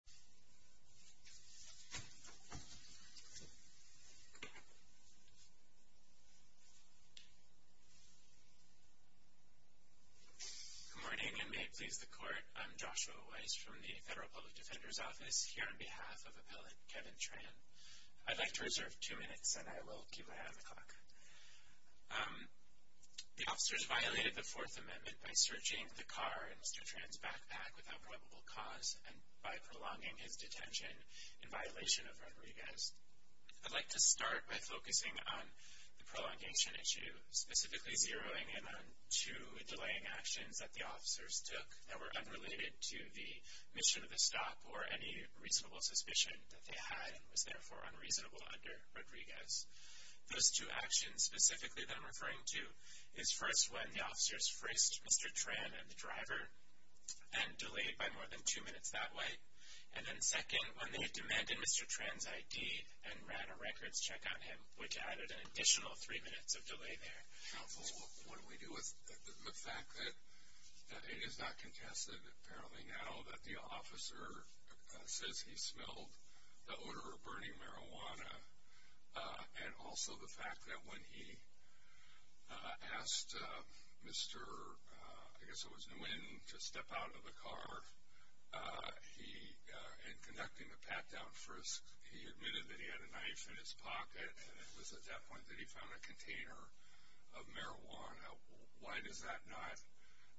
Good morning, and may it please the Court, I'm Joshua Weiss from the Federal Public Defender's Office here on behalf of Appellant Kevin Tran. I'd like to reserve two minutes and I will keep my half o'clock. The officers violated the Fourth Amendment by searching the car in Mr. Tran's backpack without probable cause and by prolonging his detention in violation of Rodriguez. I'd like to start by focusing on the prolongation issue, specifically zeroing in on two delaying actions that the officers took that were unrelated to the mission of the stop or any reasonable suspicion that they had and was therefore unreasonable under Rodriguez. Those two actions specifically that I'm referring to is first when the officers traced Mr. Tran and the driver and delayed by more than two minutes that way, and then second when they demanded Mr. Tran's I.D. and ran a records check on him, which added an additional three minutes of delay there. Counsel, what do we do with the fact that it is not contested apparently now that the officer says he smelled the odor of burning marijuana and also the fact that when he asked Mr. I guess it was Nguyen to step out of the car, he, in conducting the pat-down frisk, he admitted that he had a knife in his pocket and it was at that point that he found a container of marijuana. Why does that not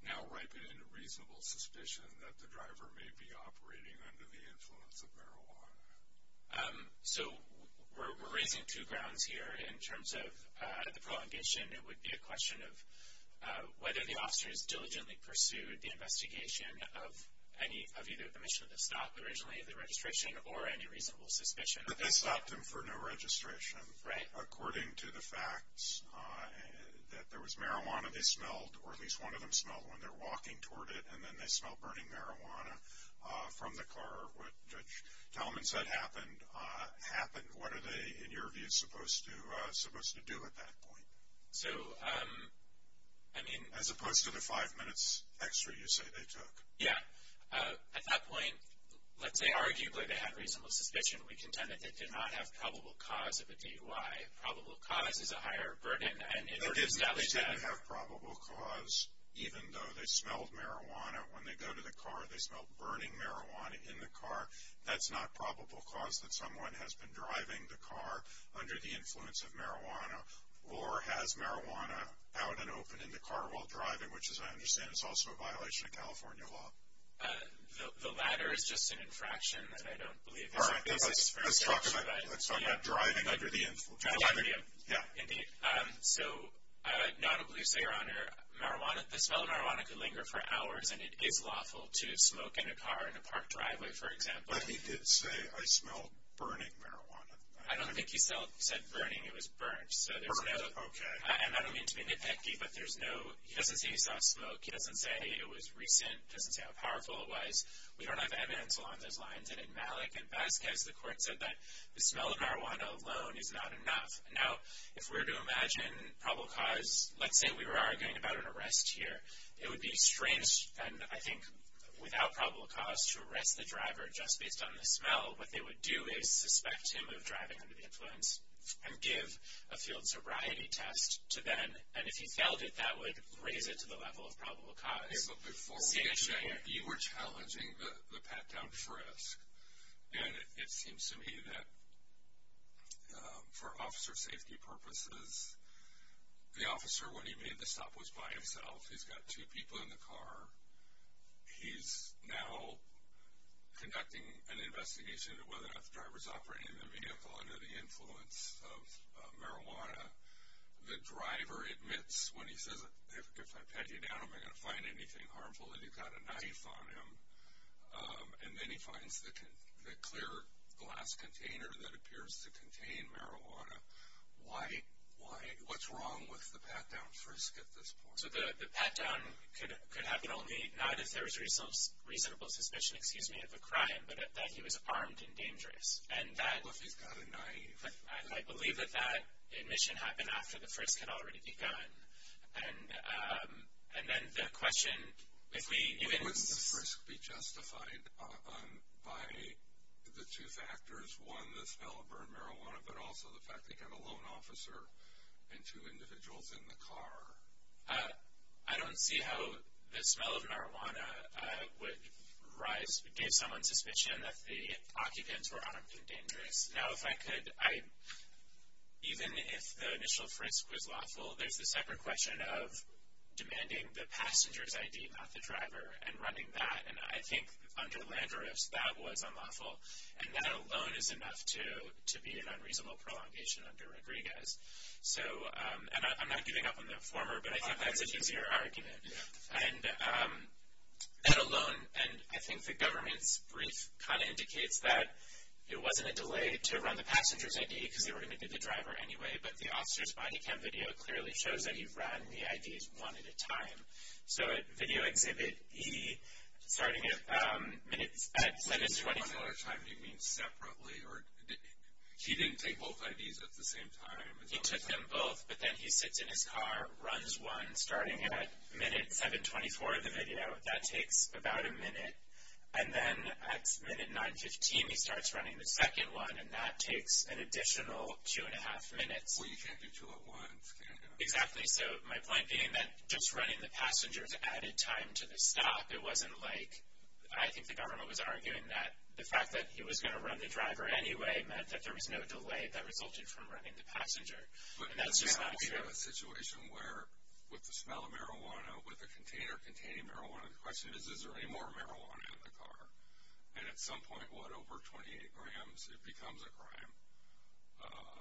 now ripen into reasonable suspicion that the driver may be operating under the influence of marijuana? So we're raising two grounds here in terms of the prolongation. It would be a question of whether the officers diligently pursued the investigation of any of either the mission of the stop originally, the registration, or any reasonable suspicion. But they stopped him for no registration. Right. According to the facts that there was marijuana they smelled, or at least one of them smelled when they're walking toward it, and then they smelled burning marijuana from the car. What happened happened. What are they, in your view, supposed to do at that point? So, I mean... As opposed to the five minutes extra you say they took. Yeah. At that point, let's say arguably they had reasonable suspicion. We contend that they did not have probable cause of a DUI. Probable cause is a higher burden and it... But if they didn't have probable cause, even though they smelled marijuana when they go to the car, they smelled burning marijuana in the car, that's not probable cause that someone has been driving the car under the influence of marijuana. Or has marijuana out and open in the car while driving, which as I understand is also a violation of California law. The latter is just an infraction that I don't believe is... All right. Let's talk about driving under the influence. Yeah, yeah, yeah. Indeed. So, non-oblivious to your honor, marijuana, the smell of marijuana could linger for hours and it is lawful to smoke in a car in a parked driveway, for example. But he did say, I smelled burning marijuana. I don't think he said burning. It was burned. Burned. Okay. And I don't mean to be nitpicky, but there's no... He doesn't say he saw smoke. He doesn't say it was recent. He doesn't say how powerful it was. We don't have evidence along those lines. And in Malik and Vasquez, the court said that the smell of marijuana alone is not enough. Now, if we were to imagine probable cause, let's say we were arguing about an incident. It would be strange, and I think without probable cause, to arrest the driver just based on the smell. What they would do is suspect him of driving under the influence and give a field sobriety test to Ben. And if he failed it, that would raise it to the level of probable cause. Okay, but before we get to that, you were challenging the pat-down frisk. And it seems to me that for officer safety purposes, the officer, when he made the stop, was by himself. He's got two people in the car. He's now conducting an investigation into whether or not the driver's operating the vehicle under the influence of marijuana. The driver admits when he says, if I pat you down, am I going to find anything harmful? And he's got a knife on him. And then he finds the clear glass container that appears to contain marijuana. Why? What's wrong with the pat-down frisk at this point? So the pat-down could happen only, not if there was reasonable suspicion, excuse me, of a crime, but that he was armed and dangerous. Well, if he's got a knife. I believe that that admission happened after the frisk had already begun. And then the question, if we even... Wouldn't the frisk be justified by the two factors, one, the smell of burned marijuana, but also the fact that you had a lone officer and two individuals in the car? I don't see how the smell of marijuana would give someone suspicion that the occupants were armed and dangerous. Now, if I could, even if the initial frisk was lawful, there's the separate question of demanding the passenger's ID, not the driver, and running that. And I think under Landorus, that was unlawful. And that alone is enough to be an unreasonable prolongation under Rodriguez. So, and I'm not giving up on the former, but I think that's an easier argument. And that alone, and I think the government's brief kind of indicates that it wasn't a delay to run the passenger's ID, because they were going to get the driver anyway, but the officer's body cam video clearly shows that he ran the IDs one at a time. So at video exhibit E, starting at minutes, at sentence 24... You mean separately, or he didn't take both IDs at the same time? He took them both, but then he sits in his car, runs one, starting at minute 724 of the video. That takes about a minute. And then at minute 915, he starts running the second one, and that takes an additional two and a half minutes. Well, you can't do two at once, can you? Exactly. So my point being that just running the passenger's added time to the stop. It was going to run the driver anyway, meant that there was no delay that resulted from running the passenger. And that's just not true. But now we have a situation where, with the smell of marijuana, with a container containing marijuana, the question is, is there any more marijuana in the car? And at some point, what, over 28 grams, it becomes a crime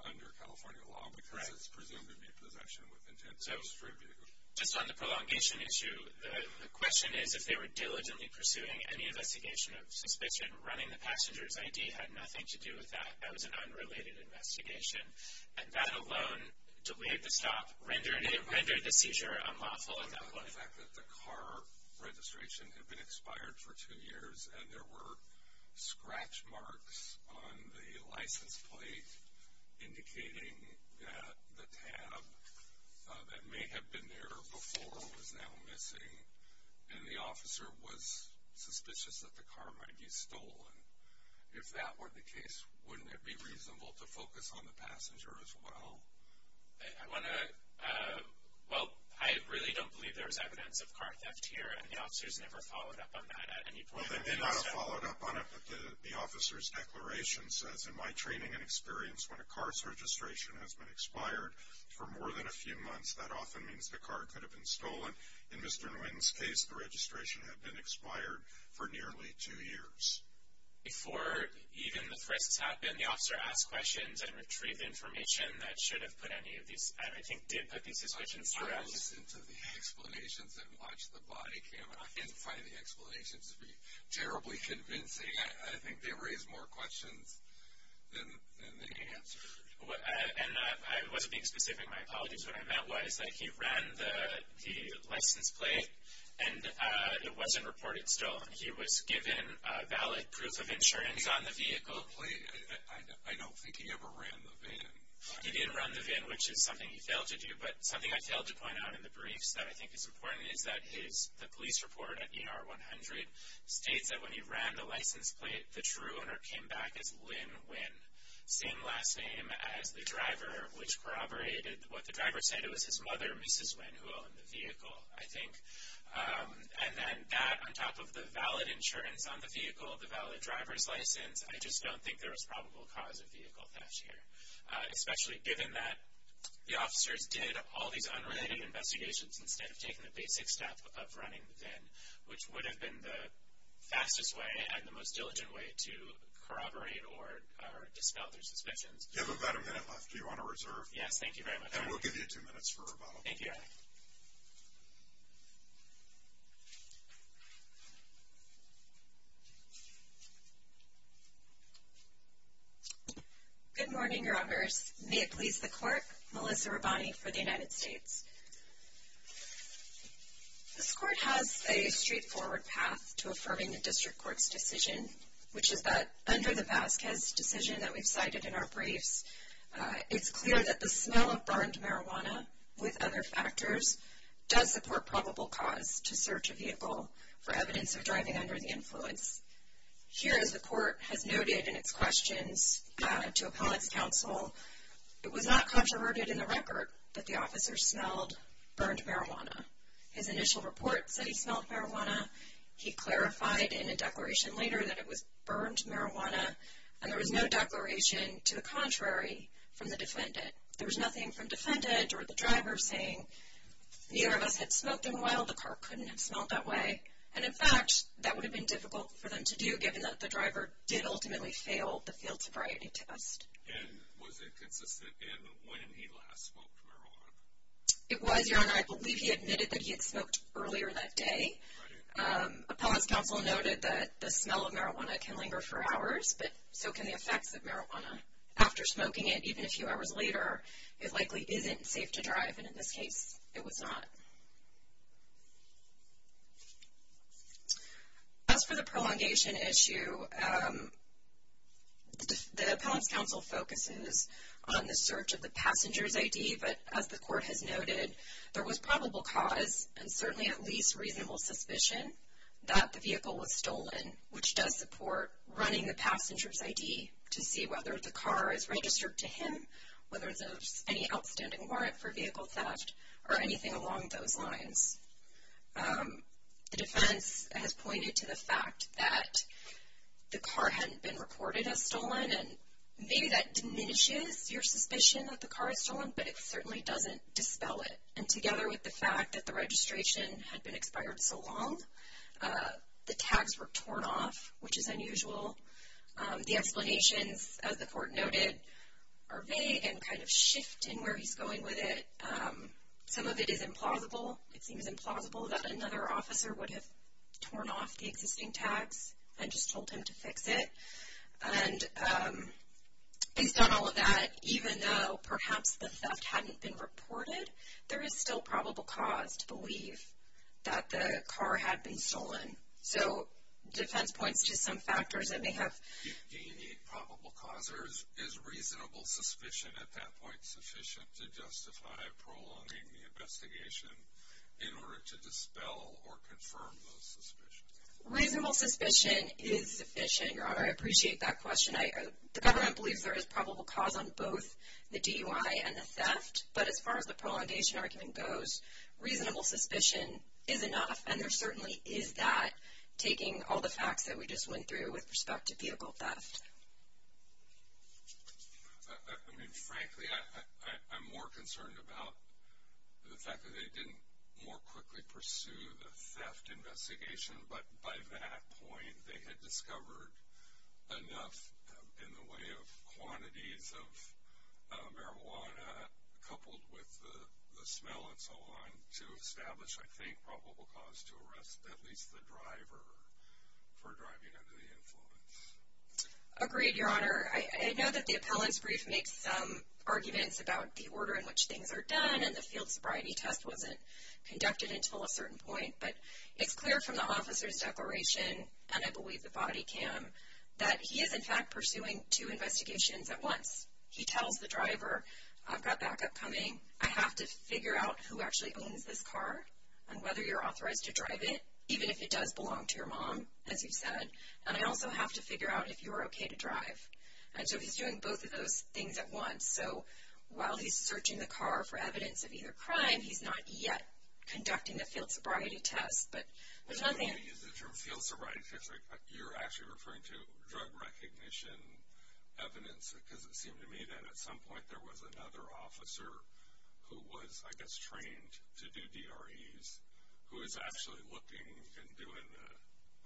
under California law, because it's presumed to be possession with intent to distribute. Just on the prolongation issue, the question is, if they were diligently pursuing any had nothing to do with that. That was an unrelated investigation. And that alone, to waive the stop, rendered the seizure unlawful at that point. The fact that the car registration had been expired for two years, and there were scratch marks on the license plate indicating that the tab that may have been there before was now missing, and the officer was suspicious that the car might be stolen. If that were the case, wouldn't it be reasonable to focus on the passenger as well? I want to, well, I really don't believe there's evidence of car theft here, and the officer's never followed up on that at any point. Well, they may not have followed up on it, but the officer's declaration says, in my training and experience, when a car's registration has been expired for more than a few years, and it's not stolen. In Mr. Nguyen's case, the registration had been expired for nearly two years. Before even the threats happened, the officer asked questions and retrieved the information that should have put any of these, and I think did put these suspicions on us. I've listened to the explanations and watched the body camera. I didn't find the explanations to be terribly convincing. I think they raised more questions than they answered. And I wasn't being specific. My apologies. What I meant was that he ran the license plate, and it wasn't reported stolen. He was given valid proof of insurance on the vehicle. He didn't run the plate. I don't think he ever ran the van. He did run the van, which is something he failed to do, but something I failed to point out in the briefs that I think is important is that the police report at ER 100 states that when he ran the license plate, the true owner came back as Linh Nguyen. Same last name as the driver, which corroborated what the driver said. It was his mother, Mrs. Nguyen, who owned the vehicle, I think. And then that, on top of the valid insurance on the vehicle, the valid driver's license, I just don't think there was probable cause of vehicle theft here, especially given that the officers did all these unrelated investigations instead of taking the basic step of running the van, which would have been the fastest way and the most diligent way to corroborate or dispel their suspicions. You have about a minute left. Do you want to reserve? Yes, thank you very much. And we'll give you two minutes for rebuttal. Thank you, Your Honor. Good morning, Your Honors. May it please the Court, Melissa Rabbani for the United States. This Court has a straightforward path to affirming the District Court's decision, which is that under the Vasquez decision that we've cited in our briefs, it's clear that the smell of burned marijuana, with other factors, does support probable cause to search a vehicle for evidence of driving under the influence. Here, as the Court has noted in its questions to appellate's counsel, it was not controverted in the record that the officer smelled burned marijuana. His initial report said he smelled marijuana. He clarified in a declaration later that it was burned marijuana, and there was no declaration to the contrary from the defendant. There was nothing from defendant or the driver saying, neither of us had smoked in a while, the car couldn't have smelled that way. And in fact, that would have been difficult for them to do, given that the driver did ultimately fail the field sobriety test. And was it consistent in when he last smoked marijuana? It was, Your Honor. I believe he admitted that he had smoked earlier that day. Appellate's counsel noted that the smell of marijuana can linger for hours, but so can the effects of marijuana. After smoking it, even a few hours later, it likely isn't safe to drive, and in this case, it was not. As for the prolongation issue, the appellate's counsel focuses on the search of the passenger's ID, but as the Court has noted, there was probable cause, and certainly at least reasonable suspicion, that the vehicle was stolen, which does support running the passenger's ID to see whether the car is registered to him, whether there's any outstanding warrant for vehicle theft, or anything along those lines. The defense has pointed to the fact that the car hadn't been reported as stolen, and maybe that diminishes your suspicion that the car is stolen, but it certainly doesn't dispel it. And together with the fact that the registration had been expired so long, the tags were torn off, which is unusual. The explanations, as the Court noted, are vague and kind of shift in where he's going with it. Some of it is implausible. It seems implausible that another officer would have torn off the existing tags and just told him to fix it. And based on all of that, even though perhaps the theft hadn't been reported, there is still probable cause to believe that the car had been stolen. So defense points to some factors that may have... Do you need probable cause, or is reasonable suspicion at that point sufficient to justify prolonging the investigation in order to dispel or confirm those suspicions? Reasonable suspicion is sufficient, Your Honor. I appreciate that question. The government believes there is probable cause on both the DUI and the theft, but as far as the prolongation argument goes, reasonable suspicion is enough. And there certainly is that, taking all the facts that we just went through with respect to vehicle theft. I mean, frankly, I'm more concerned about the fact that they didn't more quickly pursue the theft investigation. But by that point, they had discovered enough in the way of quantities of marijuana, coupled with the smell and so on, to establish, I think, probable cause to arrest at least the driver for driving under the influence. Agreed, Your Honor. I know that the appellant's brief makes some arguments about the order in which things are done, and the field sobriety test wasn't conducted until a certain point, but it's clear from the officer's declaration, and I believe the body cam, that he is in fact pursuing two investigations at once. He tells the driver, I've got backup coming. I have to figure out who actually owns this car, and whether you're authorized to drive it, even if it does belong to your mom, as you've said. And I also have to figure out if you're okay to drive. And so he's doing both of those things at once. So while he's searching the car for evidence of either crime, he's not yet conducting the field sobriety test, but there's nothing... When you use the term field sobriety test, you're actually referring to drug recognition evidence, because it seemed to me that at some point there was another officer who was, I guess, trained to do DREs, who was actually looking and doing the...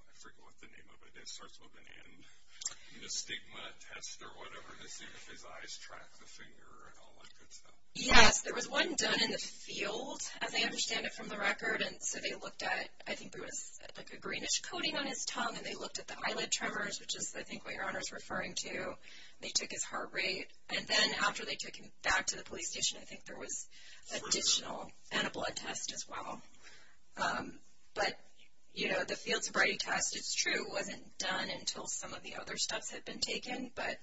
I forget what the name of it is. It starts with an N. The stigma test or whatever, to see if his eyes track the finger and all that good stuff. Yes, there was one done in the field, as I understand it from the record, and so they looked at, I think there was like a greenish coating on his tongue, and they looked at the eyelid tremors, which is I think what Your Honor's referring to. They took his heart rate, and then after they took him back to the police station, I think there was additional and a blood test as well. But, you know, the field sobriety test, it's true, wasn't done until some of the other steps had been taken, but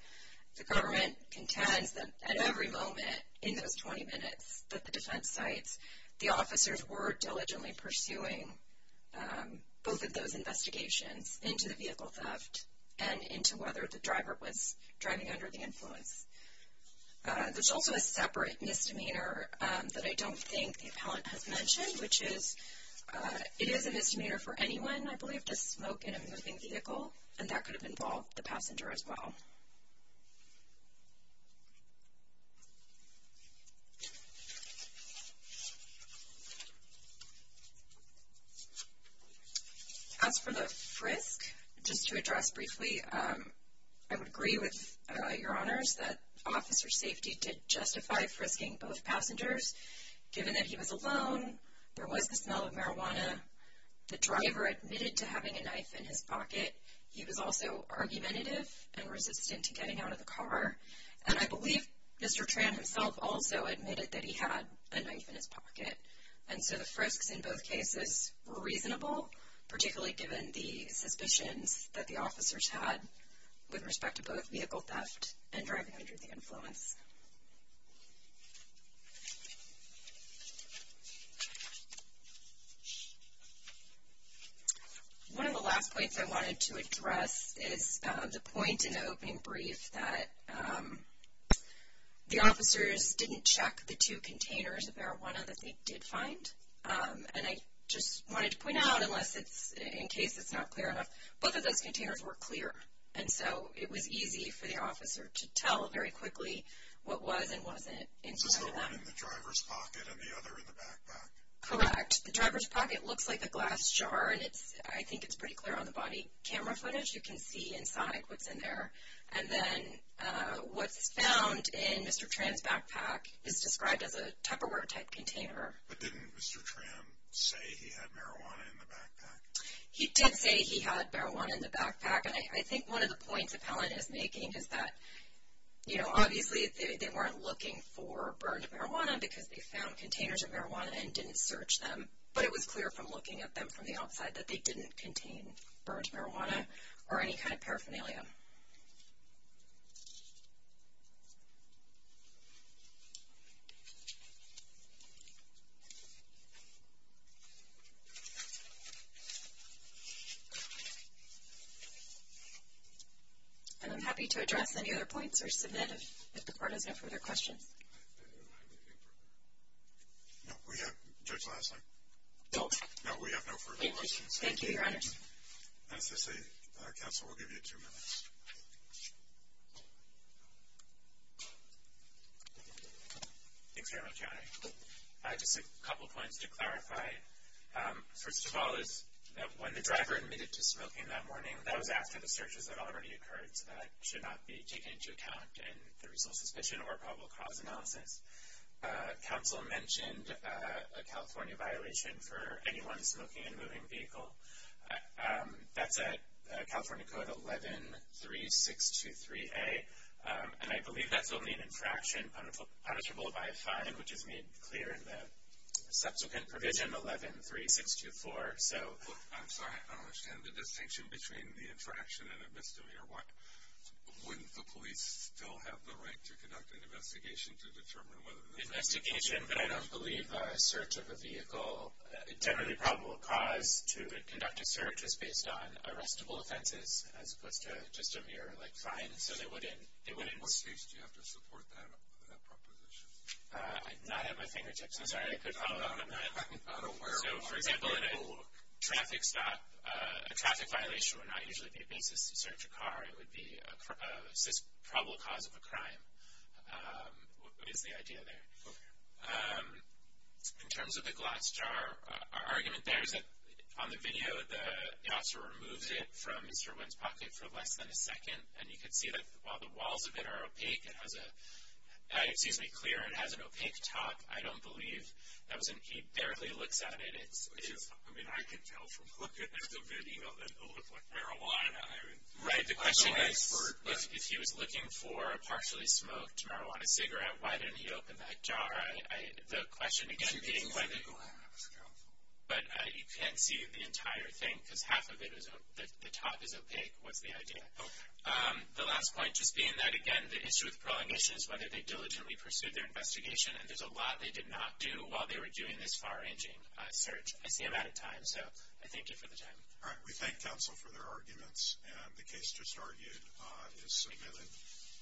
the government contends that at every moment in those 20 minutes that the defense sites, the officers were diligently pursuing both of those investigations into the vehicle theft and into whether the driver was driving under the influence. There's also a separate misdemeanor that I don't think the appellant has mentioned, which is, it is a misdemeanor for anyone, I believe, to smoke in a moving vehicle, and that could have involved the passenger as well. As for the frisk, just to address briefly, I would agree with Your Honors that officer safety did justify frisking both passengers, given that he was alone, there was the smell of marijuana, the driver admitted to having a knife in his pocket, he was also argumentative and resistant to getting out of the car, and I believe Mr. Tran himself also admitted that he had a knife in his pocket, and so the frisks in both cases were reasonable, particularly given the suspicions that the officers had with respect to both vehicle theft and driving under the influence. One of the last points I wanted to address is the point in the opening brief that the officers didn't check the two containers of marijuana that they did find, and I just wanted to make sure that those containers were clear, and so it was easy for the officer to tell very quickly what was and wasn't inside of them. Is this the one in the driver's pocket and the other in the backpack? Correct. The driver's pocket looks like a glass jar, and I think it's pretty clear on the body camera footage, you can see inside what's in there, and then what's found in Mr. Tran's backpack is described as a Tupperware-type container. He did say he had marijuana in the backpack, and I think one of the points Appellant is making is that, you know, obviously they weren't looking for burned marijuana because they found containers of marijuana and didn't search them, but it was clear from looking at them from the outside that they didn't contain burned marijuana or any kind of paraphernalia. And I'm happy to address any other points or submit if the court has no further questions. No, we have no further questions. Thank you, your honors. As I say, counsel, we'll give you two minutes. Thanks very much, Your Honor. Just a couple points to clarify. First of all is that when the driver admitted to smoking that morning, that was after the searches had already occurred, so that should not be taken into account in the resource suspicion or probable cause analysis. Counsel mentioned a California violation for anyone smoking in a moving vehicle. That's California Code 11-3623-A, and I believe that's only an infraction punishable by a fine, which is made clear in the subsequent provision 11-3624. So, I'm sorry, I don't understand. The distinction between the infraction and a misdemeanor, wouldn't the police still have the right to conduct an investigation to determine whether this was a vehicle? Investigation, but I don't believe a search of a vehicle, generally probable cause, to conduct a search is based on arrestable offenses as opposed to just a mere, like, fine, so they wouldn't, they wouldn't. What case do you have to support that proposition? I'm not at my fingertips. I'm sorry, I could follow up on that. I'm not aware of one. So, for example, in a traffic stop, a traffic violation would not usually be a basis to search a car. It would be a probable cause of a crime, is the idea there. Okay. In terms of the glass jar, our argument there is that on the video, the officer removed it from Mr. Wynn's pocket for less than a second, and you could see that while the walls of it are opaque, it has a, it seems to be clear, it has an opaque top. I don't believe that was an, he barely looks at it. It's, it's. I mean, I could tell from looking at the video that it looked like marijuana. I mean. Right. The question is, if he was looking for a partially smoked marijuana cigarette, why didn't he open that jar? I, I, the question, again, being whether, but you can't see the entire thing, because half of it is, the top is opaque. What's the idea? Okay. Um, the last point, just being that, again, the issue with prohibition is whether they diligently pursued their investigation, and there's a lot they did not do while they were doing this far-ranging search. I see I'm out of time, so I thank you for the time. All right. We thank counsel for their arguments, and the case just argued is submitted.